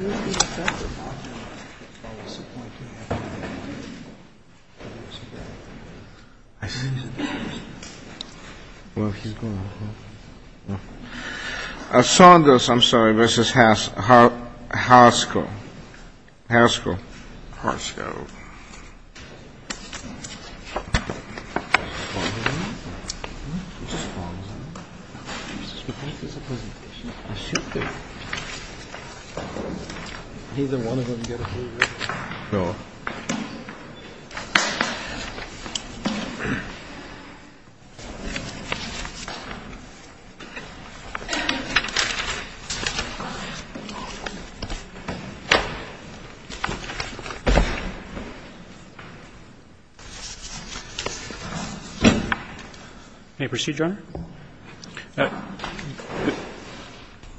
I'm sorry, Mr. Saunders v. Harsco. Harsco. Neither one of them get a Blue Ribbon. Go. May I proceed, Your Honor?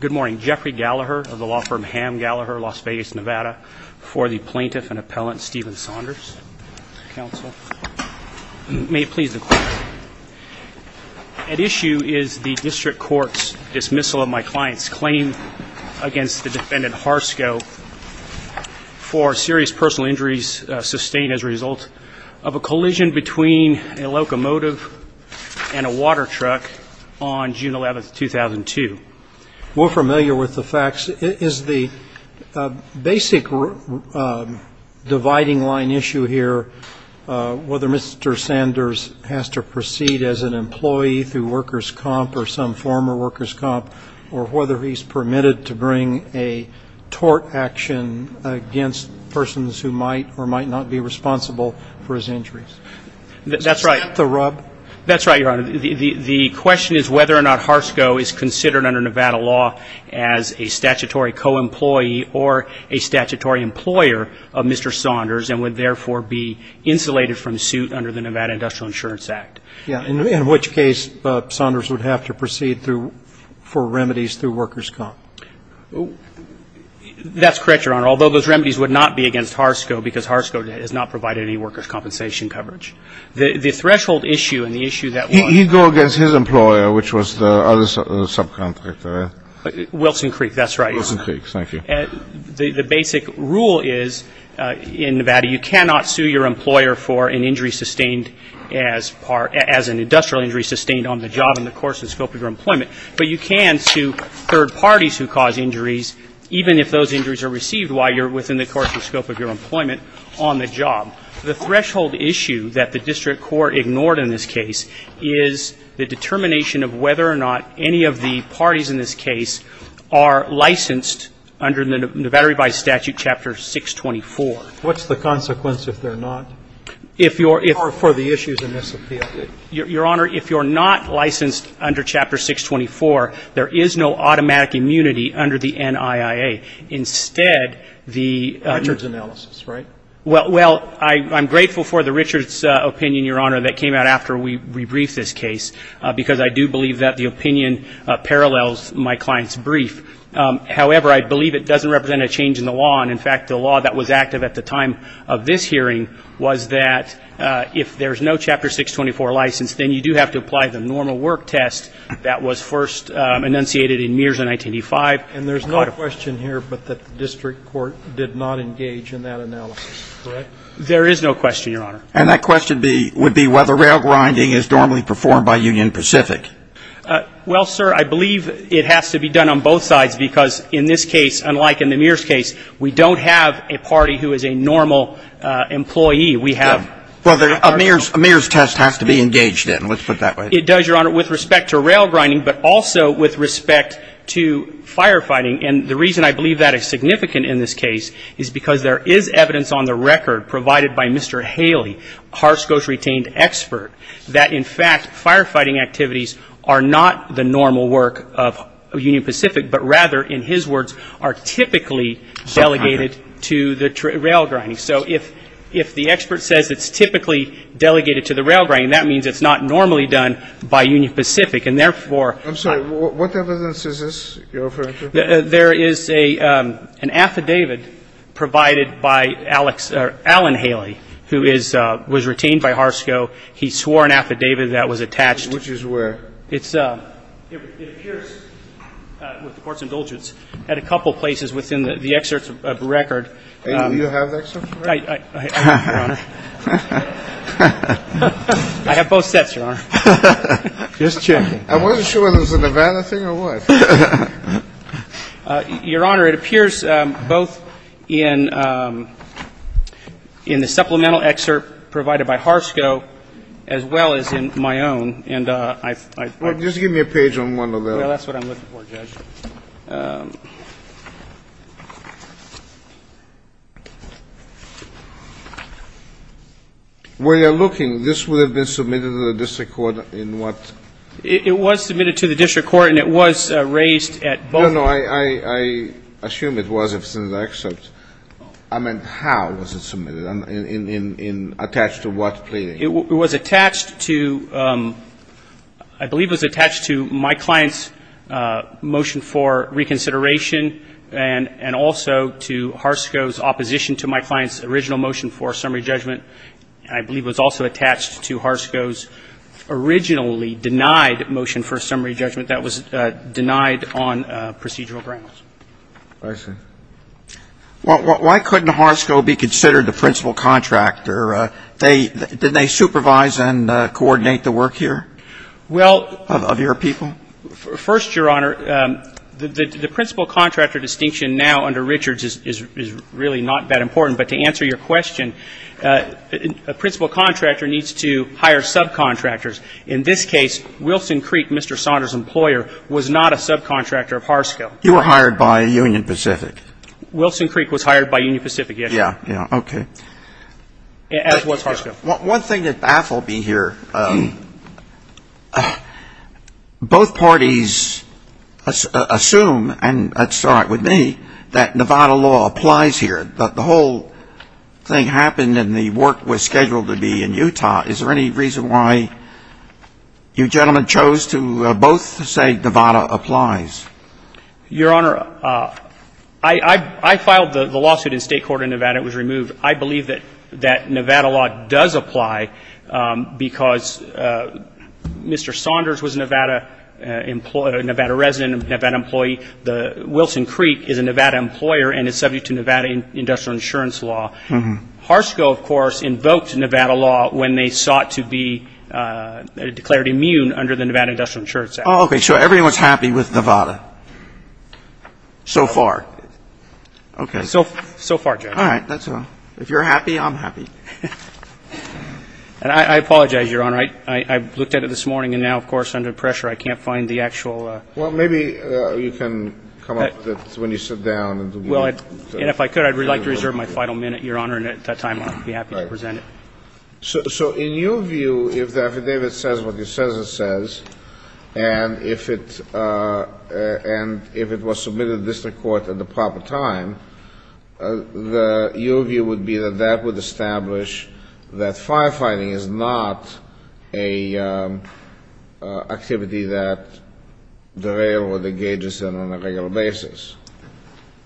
Good morning. Jeffrey Gallagher of the law firm Ham Gallagher, Las Vegas, Nevada, for the Plaintiff and Appellant Stephen Saunders, counsel. May it please the Court. At issue is the District Court's dismissal of my client's claim against the defendant Harsco for serious personal injuries sustained as a result of a collision between a locomotive and a water truck on June 11, 2002. We're familiar with the facts. Is the basic dividing line issue here whether Mr. Saunders has to proceed as an employee through workers' comp or some former workers' comp, or whether he's permitted to bring a tort action against persons who might or might not be responsible for his injuries? That's right. Is that the rub? That's right, Your Honor. The question is whether or not Harsco is considered under Nevada law as a statutory co-employee or a statutory employer of Mr. Saunders and would therefore be insulated from suit under the Nevada Industrial Insurance Act. Yeah, in which case Saunders would have to proceed through for remedies through workers' comp. That's correct, Your Honor, although those remedies would not be against Harsco because Harsco has not provided any workers' compensation coverage. The threshold issue and the issue that was ---- He'd go against his employer, which was the other subcontractor. Wilson Creek, that's right, Your Honor. Wilson Creek, thank you. The basic rule is in Nevada you cannot sue your employer for an injury sustained as part ---- as an industrial injury sustained on the job in the course and scope of your employment, but you can sue third parties who cause injuries, even if those injuries are received while you're within the course and scope of your employment on the job. The threshold issue that the district court ignored in this case is the determination of whether or not any of the parties in this case are licensed under the Nevada Revised Statute, Chapter 624. What's the consequence if they're not? If you're ---- Or for the issues in this appeal. Your Honor, if you're not licensed under Chapter 624, there is no automatic immunity under the NIIA. Instead, the ---- Richard's analysis, right? Well, I'm grateful for the Richard's opinion, Your Honor, that came out after we rebriefed this case because I do believe that the opinion parallels my client's brief. However, I believe it doesn't represent a change in the law. And, in fact, the law that was active at the time of this hearing was that if there's no Chapter 624 license, then you do have to apply the normal work test that was first enunciated in Mears in 1985. And there's no question here but that the district court did not engage in that analysis, correct? There is no question, Your Honor. And that question would be whether rail grinding is normally performed by Union Pacific. Well, sir, I believe it has to be done on both sides because, in this case, unlike in the Mears case, we don't have a party who is a normal employee. We have ---- Well, a Mears test has to be engaged in. Let's put it that way. It does, Your Honor, with respect to rail grinding, but also with respect to firefighting. And the reason I believe that is significant in this case is because there is evidence on the record, provided by Mr. Haley, a Harris Coast retained expert, that, in fact, firefighting activities are not the normal work of Union Pacific, but rather, in his words, are typically delegated to the rail grinding. So if the expert says it's typically delegated to the rail grinding, that means it's not normally done by Union Pacific. And, therefore ---- What evidence is this, Your Honor? There is an affidavit provided by Allen Haley, who was retained by Harris Coast. He swore an affidavit that was attached. Which is where? It appears, with the Court's indulgence, at a couple places within the excerpt of the record. Do you have the excerpt of the record? I do, Your Honor. I have both sets, Your Honor. Just checking. I wasn't sure whether it was a Nevada thing or what. Your Honor, it appears both in the supplemental excerpt provided by Harris Coast as well as in my own. And I've ---- Just give me a page on one of those. Well, that's what I'm looking for, Judge. Where you're looking, this would have been submitted to the district court in what? It was submitted to the district court, and it was raised at both ---- No, no. I assume it was in the excerpt. I meant how was it submitted and attached to what pleading? It was attached to, I believe it was attached to my client's motion for reconsideration and also to Harris Coast's opposition to my client's original motion for a summary judgment. I believe it was also attached to Harris Coast's originally denied motion for a summary judgment that was denied on procedural grounds. I see. Well, why couldn't Harris Coast be considered the principal contractor? They ---- didn't they supervise and coordinate the work here of your people? Well, first, Your Honor, the principal contractor distinction now under Richards is really not that important. But to answer your question, a principal contractor needs to hire subcontractors. In this case, Wilson Creek, Mr. Saunders's employer, was not a subcontractor of Harris Coast. You were hired by Union Pacific. Wilson Creek was hired by Union Pacific, yes. Yeah, yeah. Okay. As was Harris Coast. One thing that baffled me here, both parties assume, and that's all right with me, that Nevada law applies here. But the whole thing happened and the work was scheduled to be in Utah. Is there any reason why you gentlemen chose to both say Nevada applies? Your Honor, I filed the lawsuit in state court in Nevada. It was removed. I believe that Nevada law does apply because Mr. Saunders was a Nevada resident, a Nevada employee. Wilson Creek is a Nevada employer and is subject to Nevada industrial insurance law. Harris Coast, of course, invoked Nevada law when they sought to be declared immune under the Nevada industrial insurance act. Oh, okay. So everyone's happy with Nevada so far? Okay. So far, Judge. All right. That's all. If you're happy, I'm happy. And I apologize, Your Honor. I looked at it this morning and now, of course, under pressure I can't find the actual Well, maybe you can come up with it when you sit down. And if I could, I'd like to reserve my final minute, Your Honor. And at that time I'd be happy to present it. So in your view, if the affidavit says what it says it says, and if it was submitted to district court at the proper time, your view would be that that would establish that firefighting is not an activity that derails or engages them on a regular basis.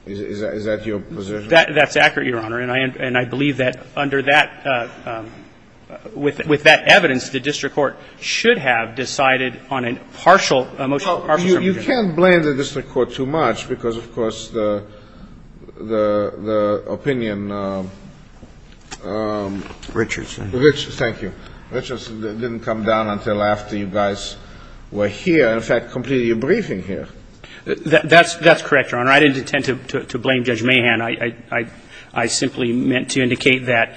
Is that your position? That's accurate, Your Honor. And I believe that under that, with that evidence, the district court should have decided on a partial motion. Well, you can't blame the district court too much because, of course, the opinion Richardson. Thank you. Richardson didn't come down until after you guys were here and, in fact, completed your briefing here. That's correct, Your Honor. I didn't intend to blame Judge Mahan. I simply meant to indicate that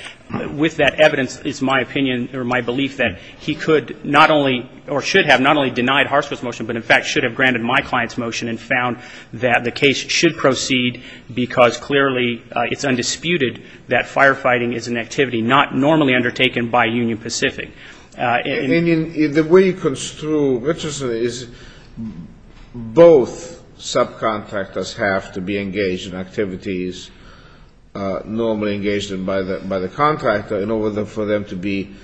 with that evidence, it's my opinion or my belief that he could not only or should have not only denied Hartsfield's motion but, in fact, should have granted my client's motion and found that the case should proceed because clearly it's undisputed that firefighting is an activity not normally undertaken by Union Pacific. And the way you construe Richardson is both subcontractors have to be engaged in activities normally engaged by the contractor in order for them to be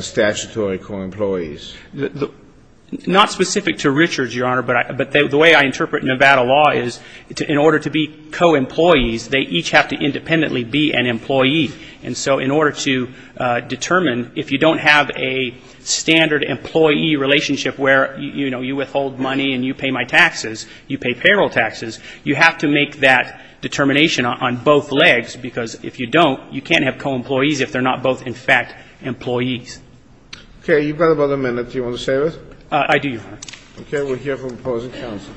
statutory co-employees. Not specific to Richards, Your Honor, but the way I interpret Nevada law is in order to be co-employees, they each have to independently be an employee. And so in order to determine if you don't have a standard employee relationship where, you know, you withhold money and you pay my taxes, you pay payroll taxes, you have to make that determination on both legs because if you don't, you can't have co-employees if they're not both, in fact, employees. Okay. You've got about a minute. Do you want to say this? I do, Your Honor. Okay. We'll hear from the opposing counsel.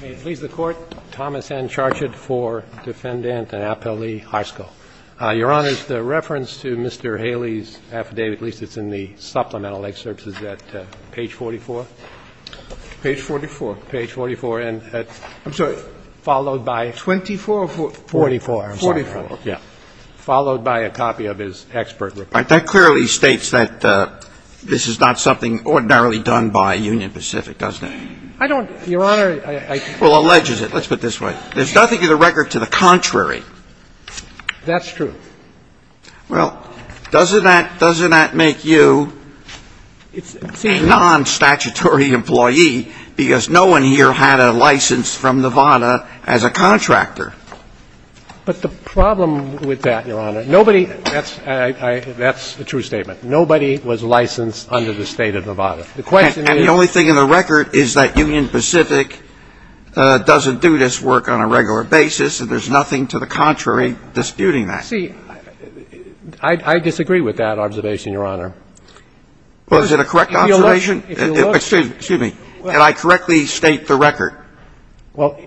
May it please the Court. Thomas N. Charchit for Defendant in Appellee High School. Your Honor, the reference to Mr. Haley's affidavit, at least it's in the supplemental excerpt, is that page 44? Page 44. Page 44. I'm sorry. Followed by 24 or 44? 44. 44. Yeah. Followed by a copy of his expert report. That clearly states that this is not something ordinarily done by Union Pacific, doesn't it? I don't, Your Honor. Well, alleges it. Let's put it this way. There's nothing in the record to the contrary. That's true. Well, doesn't that make you a nonstatutory employee because no one here had a license from Nevada as a contractor? But the problem with that, Your Honor, nobody — that's a true statement. Nobody was licensed under the State of Nevada. The question is — And the only thing in the record is that Union Pacific doesn't do this work on a regular basis, and there's nothing to the contrary disputing that. See, I disagree with that observation, Your Honor. Was it a correct observation? If you look — Excuse me. Did I correctly state the record? Well,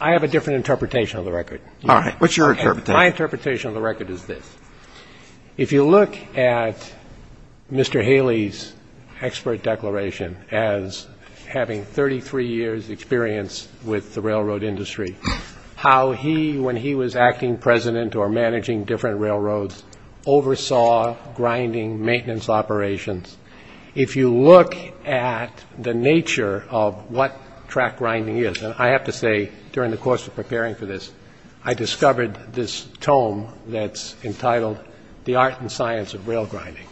I have a different interpretation of the record. All right. What's your interpretation? My interpretation of the record is this. If you look at Mr. Haley's expert declaration as having 33 years' experience with the railroads, oversaw grinding, maintenance operations, if you look at the nature of what track grinding is — and I have to say, during the course of preparing for this, I discovered this tome that's entitled, The Art and Science of Rail Grinding.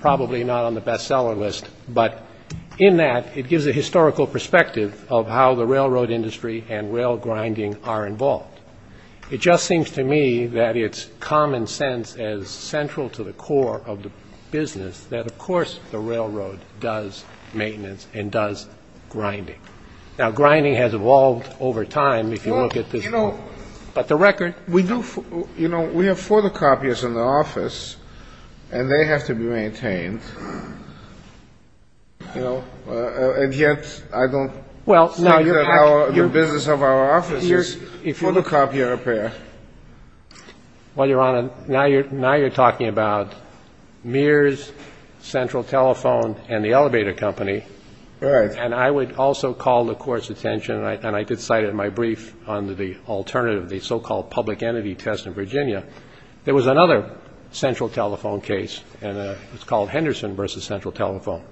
Probably not on the bestseller list, but in that, it gives a historical perspective of how the railroad industry and rail grinding are involved. It just seems to me that it's common sense as central to the core of the business that, of course, the railroad does maintenance and does grinding. Now, grinding has evolved over time, if you look at this. Well, you know — But the record — We do — you know, we have photocopiers in the office, and they have to be maintained. You know? And yet, I don't think that our — the business of our office is photocopying. And it's not photocopying. And it's copying. It's copying. And it's copying. I'm not a photocopier. Well, Your Honor, now you're — now you're talking about Mears, Central Telephone, and the elevator company. Right. And I would also call the Court's attention, and I did cite it in my brief on the alternative, the so-called public entity test in Virginia, there was another Central Telephone case, and it was called Henderson v. Central Telephone.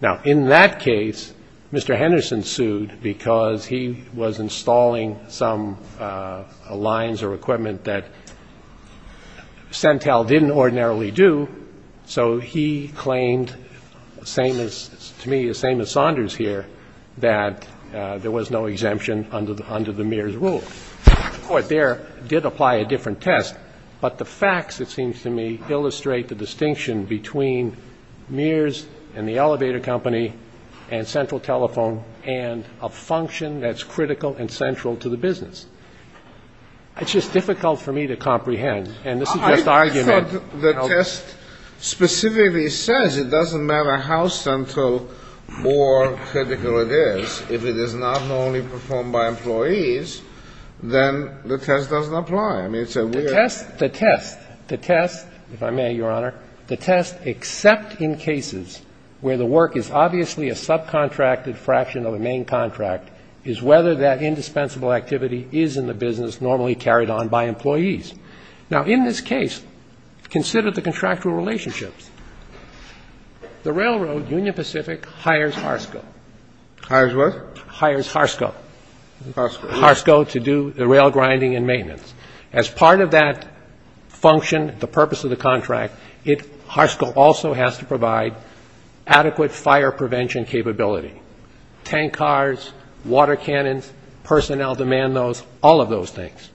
Now, in that case, Mr. Henderson sued because he was installing some lines or equipment that Centel didn't ordinarily do. So he claimed, to me the same as Saunders here, that there was no exemption under the Mears rule. The Court there did apply a different test, but the facts, it seems to me, illustrate the distinction between Mears and the elevator company and Central Telephone and a function that's critical and central to the business. It's just difficult for me to comprehend, and this is just argument. I thought the test specifically says it doesn't matter how central or critical it is. If it is not normally performed by employees, then the test doesn't apply. I mean, it's a weird — The test — the test, if I may, Your Honor, the test except in cases where the work is obviously a subcontracted fraction of the main contract is whether that indispensable activity is in the business normally carried on by employees. Now, in this case, consider the contractual relationships. The railroad, Union Pacific, hires Harsco. Hires what? Hires Harsco. Harsco. Harsco to do the rail grinding and maintenance. As part of that function, the purpose of the contract, it — Harsco also has to provide adequate fire prevention capability. Tank cars, water cannons, personnel demand those, all of those things.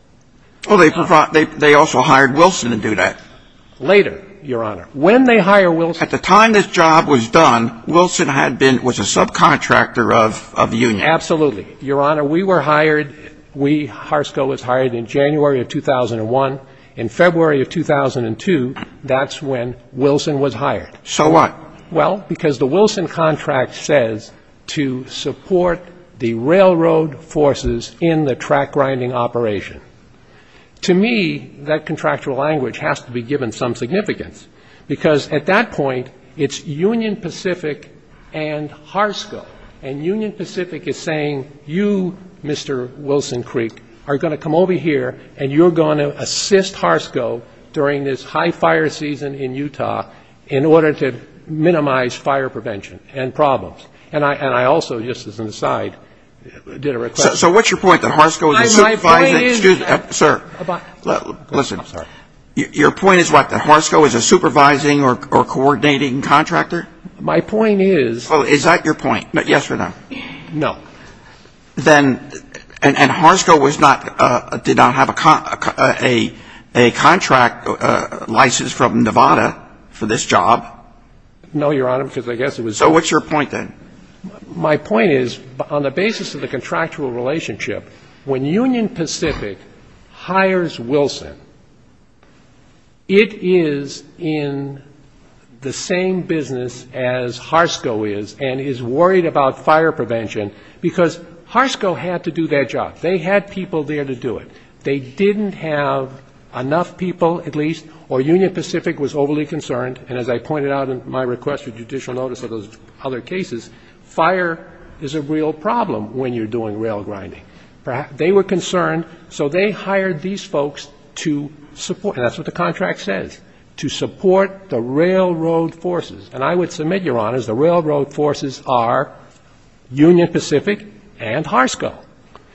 Well, they provide — they also hired Wilson to do that. Later, Your Honor. When they hire Wilson — At the time this job was done, Wilson had been — was a subcontractor of the union. Absolutely. Your Honor, we were hired — we, Harsco, was hired in January of 2001. In February of 2002, that's when Wilson was hired. So what? Well, because the Wilson contract says to support the railroad forces in the track grinding operation. To me, that contractual language has to be given some significance, because at that point, it's Union Pacific and Harsco. And Union Pacific is saying, you, Mr. Wilson Creek, are going to come over here, and you're going to assist Harsco during this high-fire season in Utah in order to minimize fire prevention and problems. And I also, just as an aside, did a request — So what's your point, that Harsco is a supervising — My point is — Excuse me, sir. Listen. I'm sorry. Your point is what, that Harsco is a supervising or coordinating contractor? My point is — Oh, is that your point? Yes or no? No. Then — and Harsco was not — did not have a contract license from Nevada for this job? No, Your Honor, because I guess it was — So what's your point, then? My point is, on the basis of the contractual relationship, when Union Pacific hires Wilson, it is in the same business as Harsco is, and is worried about fire prevention, because Harsco had to do that job. They had people there to do it. They didn't have enough people, at least, or Union Pacific was overly concerned, and as I pointed out in my request for judicial notice of those other cases, fire is a real problem when you're doing rail grinding. They were concerned, so they hired these folks to support — and that's what the contract says — to support the railroad forces. And I would submit, Your Honors, the railroad forces are Union Pacific and Harsco.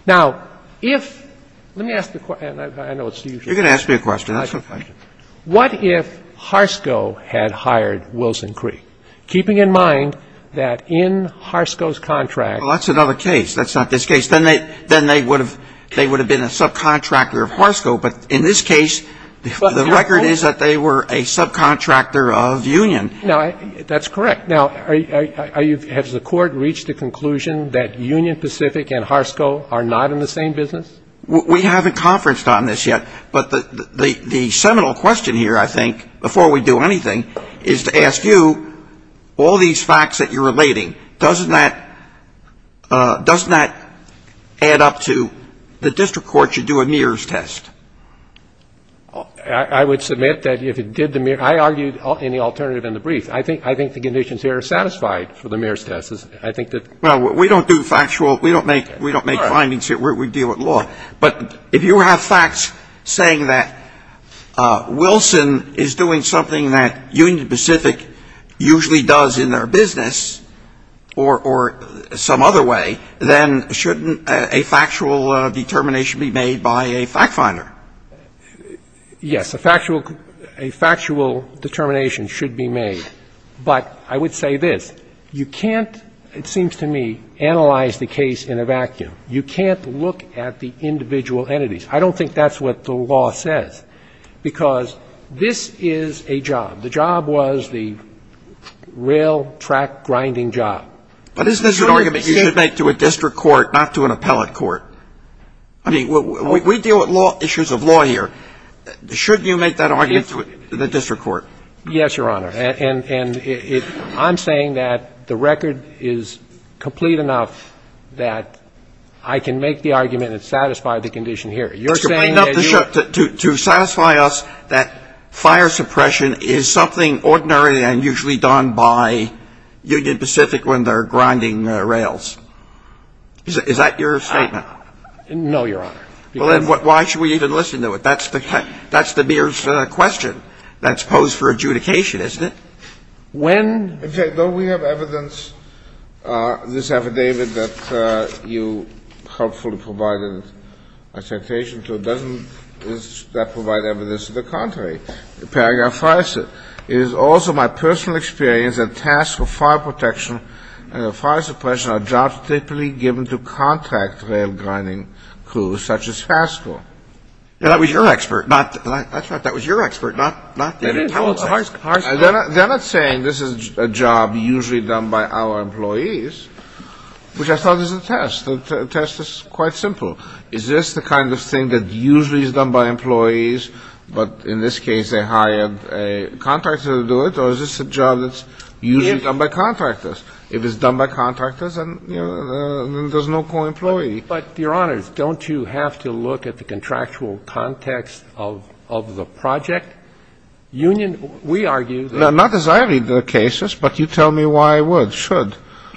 Now, if — let me ask the — and I know it's the usual question. You're going to ask me a question. That's okay. What if Harsco had hired Wilson Cree, keeping in mind that in Harsco's contract — Well, that's another case. That's not this case. Then they would have been a subcontractor of Harsco. But in this case, the record is that they were a subcontractor of Union. That's correct. Now, has the Court reached a conclusion that Union Pacific and Harsco are not in the same business? We haven't conferenced on this yet, but the seminal question here, I think, before we do anything, is to ask you, all these facts that you're relating, doesn't that add up to the district court should do a Mears test? I would submit that if it did the — I argued any alternative in the brief. I think the conditions here are satisfied for the Mears test. I think that — Well, we don't do factual — we don't make findings here. We deal with law. But if you have facts saying that Wilson is doing something that Union Pacific usually does in their business or some other way, then shouldn't a factual determination be made by a fact finder? Yes. A factual determination should be made. But I would say this. You can't, it seems to me, analyze the case in a vacuum. You can't look at the individual entities. I don't think that's what the law says, because this is a job. The job was the rail track grinding job. But isn't this an argument you should make to a district court, not to an appellate court? I mean, we deal with law — issues of law here. Shouldn't you make that argument to the district court? Yes, Your Honor. And I'm saying that the record is complete enough that I can make the argument and satisfy the condition here. You're saying that you — To satisfy us that fire suppression is something ordinary and usually done by Union Pacific when they're grinding rails. Is that your statement? No, Your Honor. Well, then why should we even listen to it? That's the mere question that's posed for adjudication, isn't it? When — Okay. Don't we have evidence, this affidavit that you helpfully provided a citation to? Doesn't that provide evidence to the contrary? Paragraph 5 says, It is also my personal experience that tasks for fire protection and fire suppression are jobs typically given to contract rail grinding crews such as Haskell. Now, that was your expert, not — that's right. That was your expert, not David Howell's. They're not saying this is a job usually done by our employees, which I thought was a test. The test is quite simple. Is this the kind of thing that usually is done by employees, but in this case they hired a contractor to do it? Or is this a job that's usually done by contractors? If it's done by contractors, then there's no co-employee. But, Your Honors, don't you have to look at the contractual context of the project union? We argue that — Not as I read the cases, but you tell me why I would, should.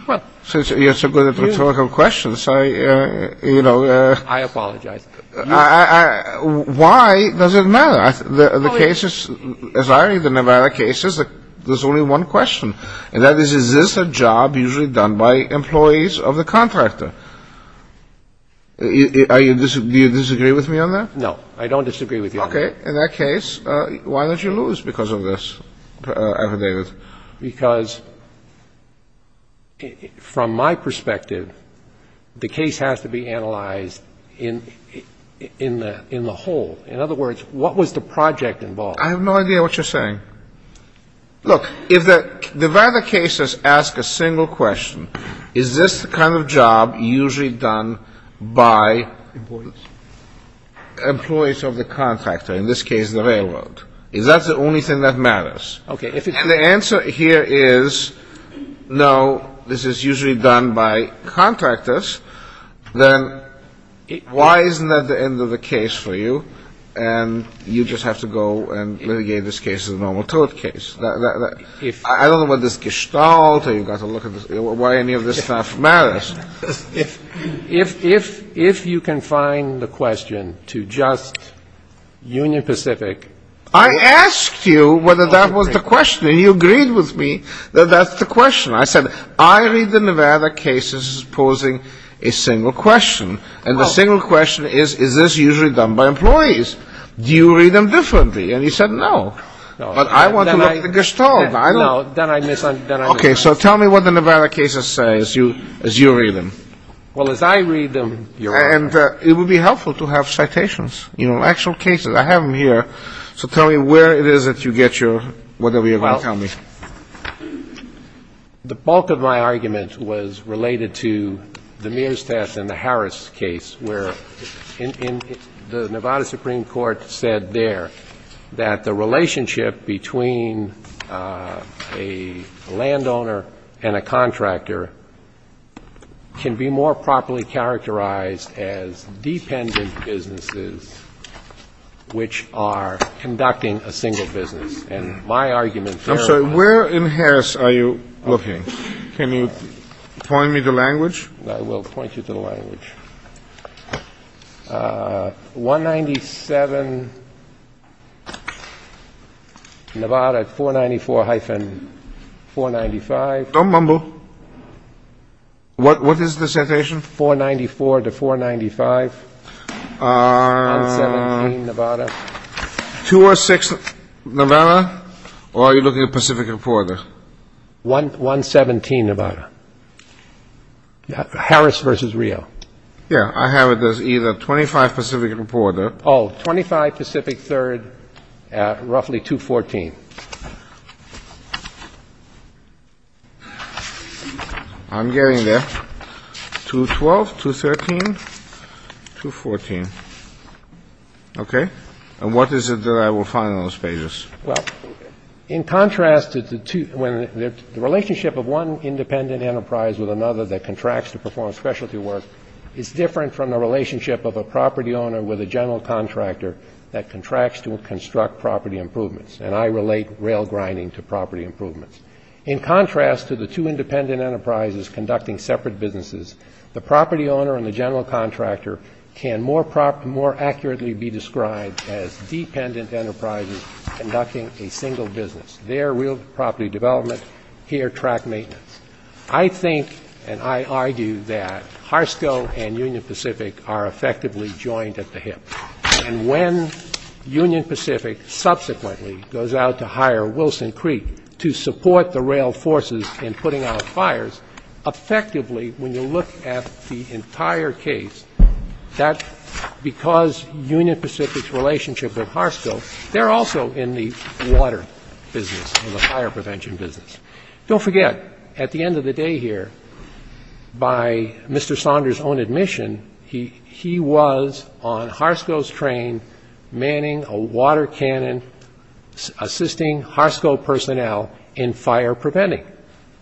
Well — Since you're so good at rhetorical questions, I, you know — I apologize. Why does it matter? The cases, as I read the Nevada cases, there's only one question, and that is, is this a job usually done by employees of the contractor? Do you disagree with me on that? No. I don't disagree with you on that. Okay. In that case, why did you lose because of this affidavit? Because from my perspective, the case has to be analyzed in the whole. In other words, what was the project involved? I have no idea what you're saying. Look, if the Nevada cases ask a single question, is this the kind of job usually done by — Employees. Employees of the contractor, in this case the railroad. Is that the only thing that matters? Okay. If the answer here is no, this is usually done by contractors, then why isn't that the end of the case for you, and you just have to go and litigate this case as a normal tort case? I don't know what this gestalt, or you've got to look at why any of this stuff matters. If you can find the question to just Union Pacific — I asked you whether that was the question, and you agreed with me that that's the question. I said, I read the Nevada cases as posing a single question, and the single question is, is this usually done by employees? Do you read them differently? And he said no. But I want to look at the gestalt. No, then I misunderstand. Okay, so tell me what the Nevada cases say as you read them. Well, as I read them — And it would be helpful to have citations, you know, actual cases. I have them here, so tell me where it is that you get your — whatever you're going to tell me. The bulk of my argument was related to the Mears test and the Harris case, where the Nevada Supreme Court said there that the relationship between a landowner and a contractor can be more properly characterized as dependent businesses, which are conducting a single business. And my argument — I'm sorry. Where in Harris are you looking? Can you point me to language? I will point you to the language. 197, Nevada, 494-495. Don't mumble. What is the citation? 494-495, 117, Nevada. 206, Nevada, or are you looking at Pacific Reporter? 117, Nevada. Harris versus Rio. Yeah, I have it as either 25 Pacific Reporter — Oh, 25 Pacific Third, roughly 214. I'm getting there. 212, 213, 214. Okay. And what is it that I will find on those pages? Well, in contrast to the two — the relationship of one independent enterprise with another that contracts to perform specialty work is different from the relationship of a property owner with a general contractor that contracts to construct property improvements. And I relate rail grinding to property improvements. In contrast to the two independent enterprises conducting separate businesses, the property owner and the general contractor can more accurately be described as dependent enterprises conducting a single business. They are real property development. Here, track maintenance. I think and I argue that HRSCO and Union Pacific are effectively joined at the hip. And when Union Pacific subsequently goes out to hire Wilson Creek to support the rail forces in putting out fires, effectively, when you look at the entire case, that's because Union Pacific's relationship with HRSCO, they're also in the water business or the fire prevention business. Don't forget, at the end of the day here, by Mr. Saunders' own admission, he was on HRSCO's train manning a water cannon, assisting HRSCO personnel in fire preventing.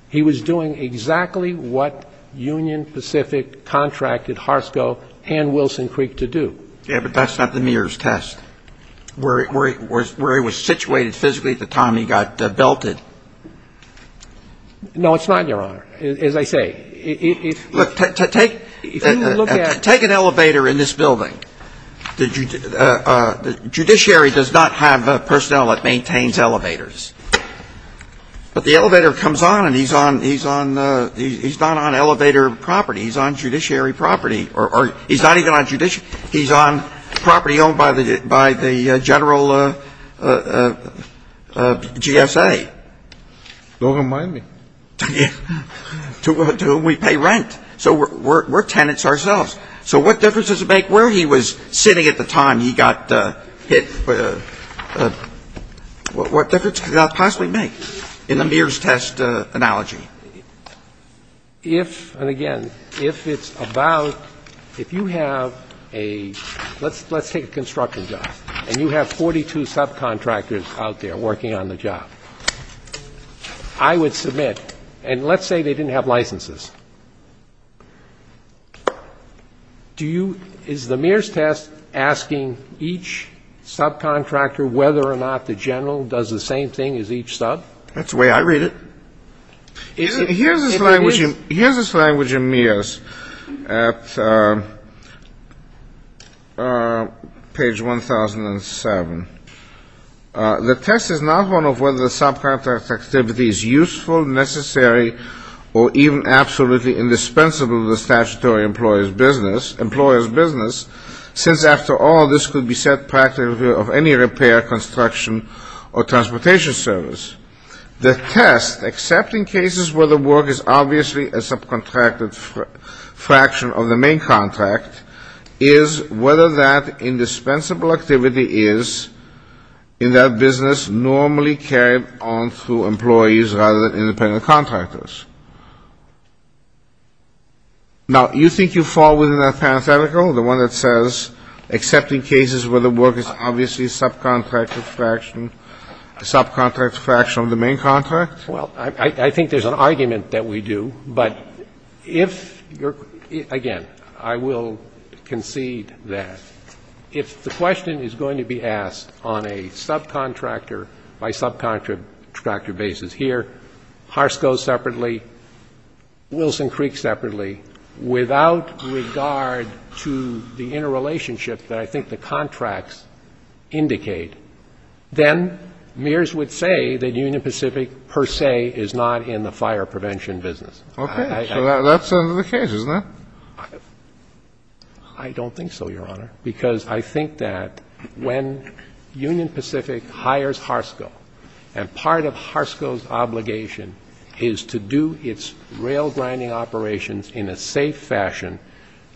He was doing exactly what Union Pacific contracted HRSCO and Wilson Creek to do. Yeah, but that's not the Mears test, where he was situated physically at the time he got belted. No, it's not, Your Honor, as I say. Look, take an elevator in this building. Judiciary does not have personnel that maintains elevators. But the elevator comes on and he's not on elevator property. He's on judiciary property. He's not even on judiciary. He's on property owned by the general GSA. Don't remind me. To whom we pay rent. So we're tenants ourselves. So what difference does it make where he was sitting at the time he got hit? What difference could that possibly make in the Mears test analogy? If, and again, if it's about, if you have a, let's take a construction job, and you have 42 subcontractors out there working on the job, I would submit, and let's say they didn't have licenses. Do you, is the Mears test asking each subcontractor whether or not the general does the same thing as each sub? That's the way I read it. Here's this language in Mears at page 1007. The test is not one of whether the subcontractor's activity is useful, necessary, or even absolutely indispensable to the statutory employer's business, since, after all, this could be said practically of any repair, construction, or transportation service. The test, except in cases where the work is obviously a subcontracted fraction of the main contract, is whether that indispensable activity is, in that business, normally carried on through employees rather than independent contractors. Now, you think you fall within that parenthetical, the one that says except in cases where the work is obviously a subcontracted fraction, a subcontracted fraction of the main contract? Well, I think there's an argument that we do. But if you're, again, I will concede that if the question is going to be asked on a subcontractor by subcontractor basis here, Harsco separately, Wilson Creek separately, without regard to the interrelationship that I think the contracts indicate, then Mears would say that Union Pacific per se is not in the fire prevention business. Okay. So that's under the case, isn't it? I don't think so, Your Honor, because I think that when Union Pacific hires Harsco, and part of Harsco's obligation is to do its rail grinding operations in a safe fashion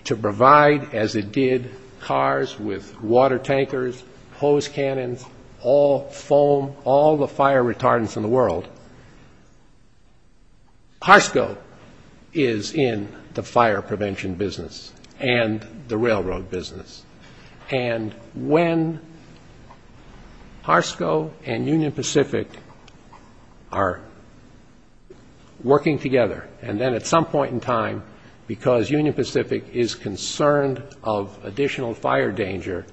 to provide, as it did, cars with water tankers, hose cannons, all foam, all the fire retardants in the world, Harsco is in the fire prevention business and the railroad business. And when Harsco and Union Pacific are working together, and then at some point in time, because Union Pacific is concerned of additional fire danger,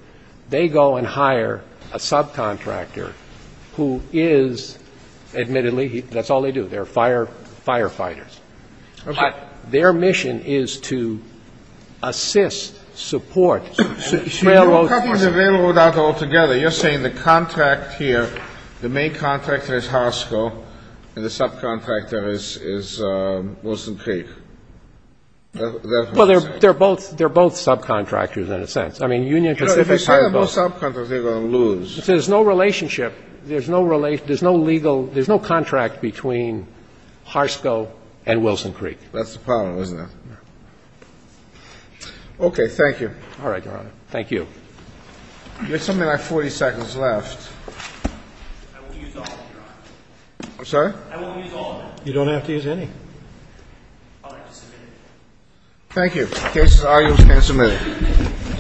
they go and hire a subcontractor who is, admittedly, that's all they do. They're firefighters. Okay. But their mission is to assist, support railroads. You're cutting the railroad out altogether. You're saying the contract here, the main contractor is Harsco, and the subcontractor is Wilson Creek. That's what you're saying. Well, they're both subcontractors in a sense. I mean, Union Pacific hired both. If they sign a new subcontractor, they're going to lose. There's no relationship. There's no legal – there's no contract between Harsco and Wilson Creek. That's the problem, isn't it? Okay. Thank you. All right, Your Honor. Thank you. We have something like 40 seconds left. I will use all of them, Your Honor. I'm sorry? I will use all of them. You don't have to use any. I'd like to submit it. Thank you. The case is argued and submitted.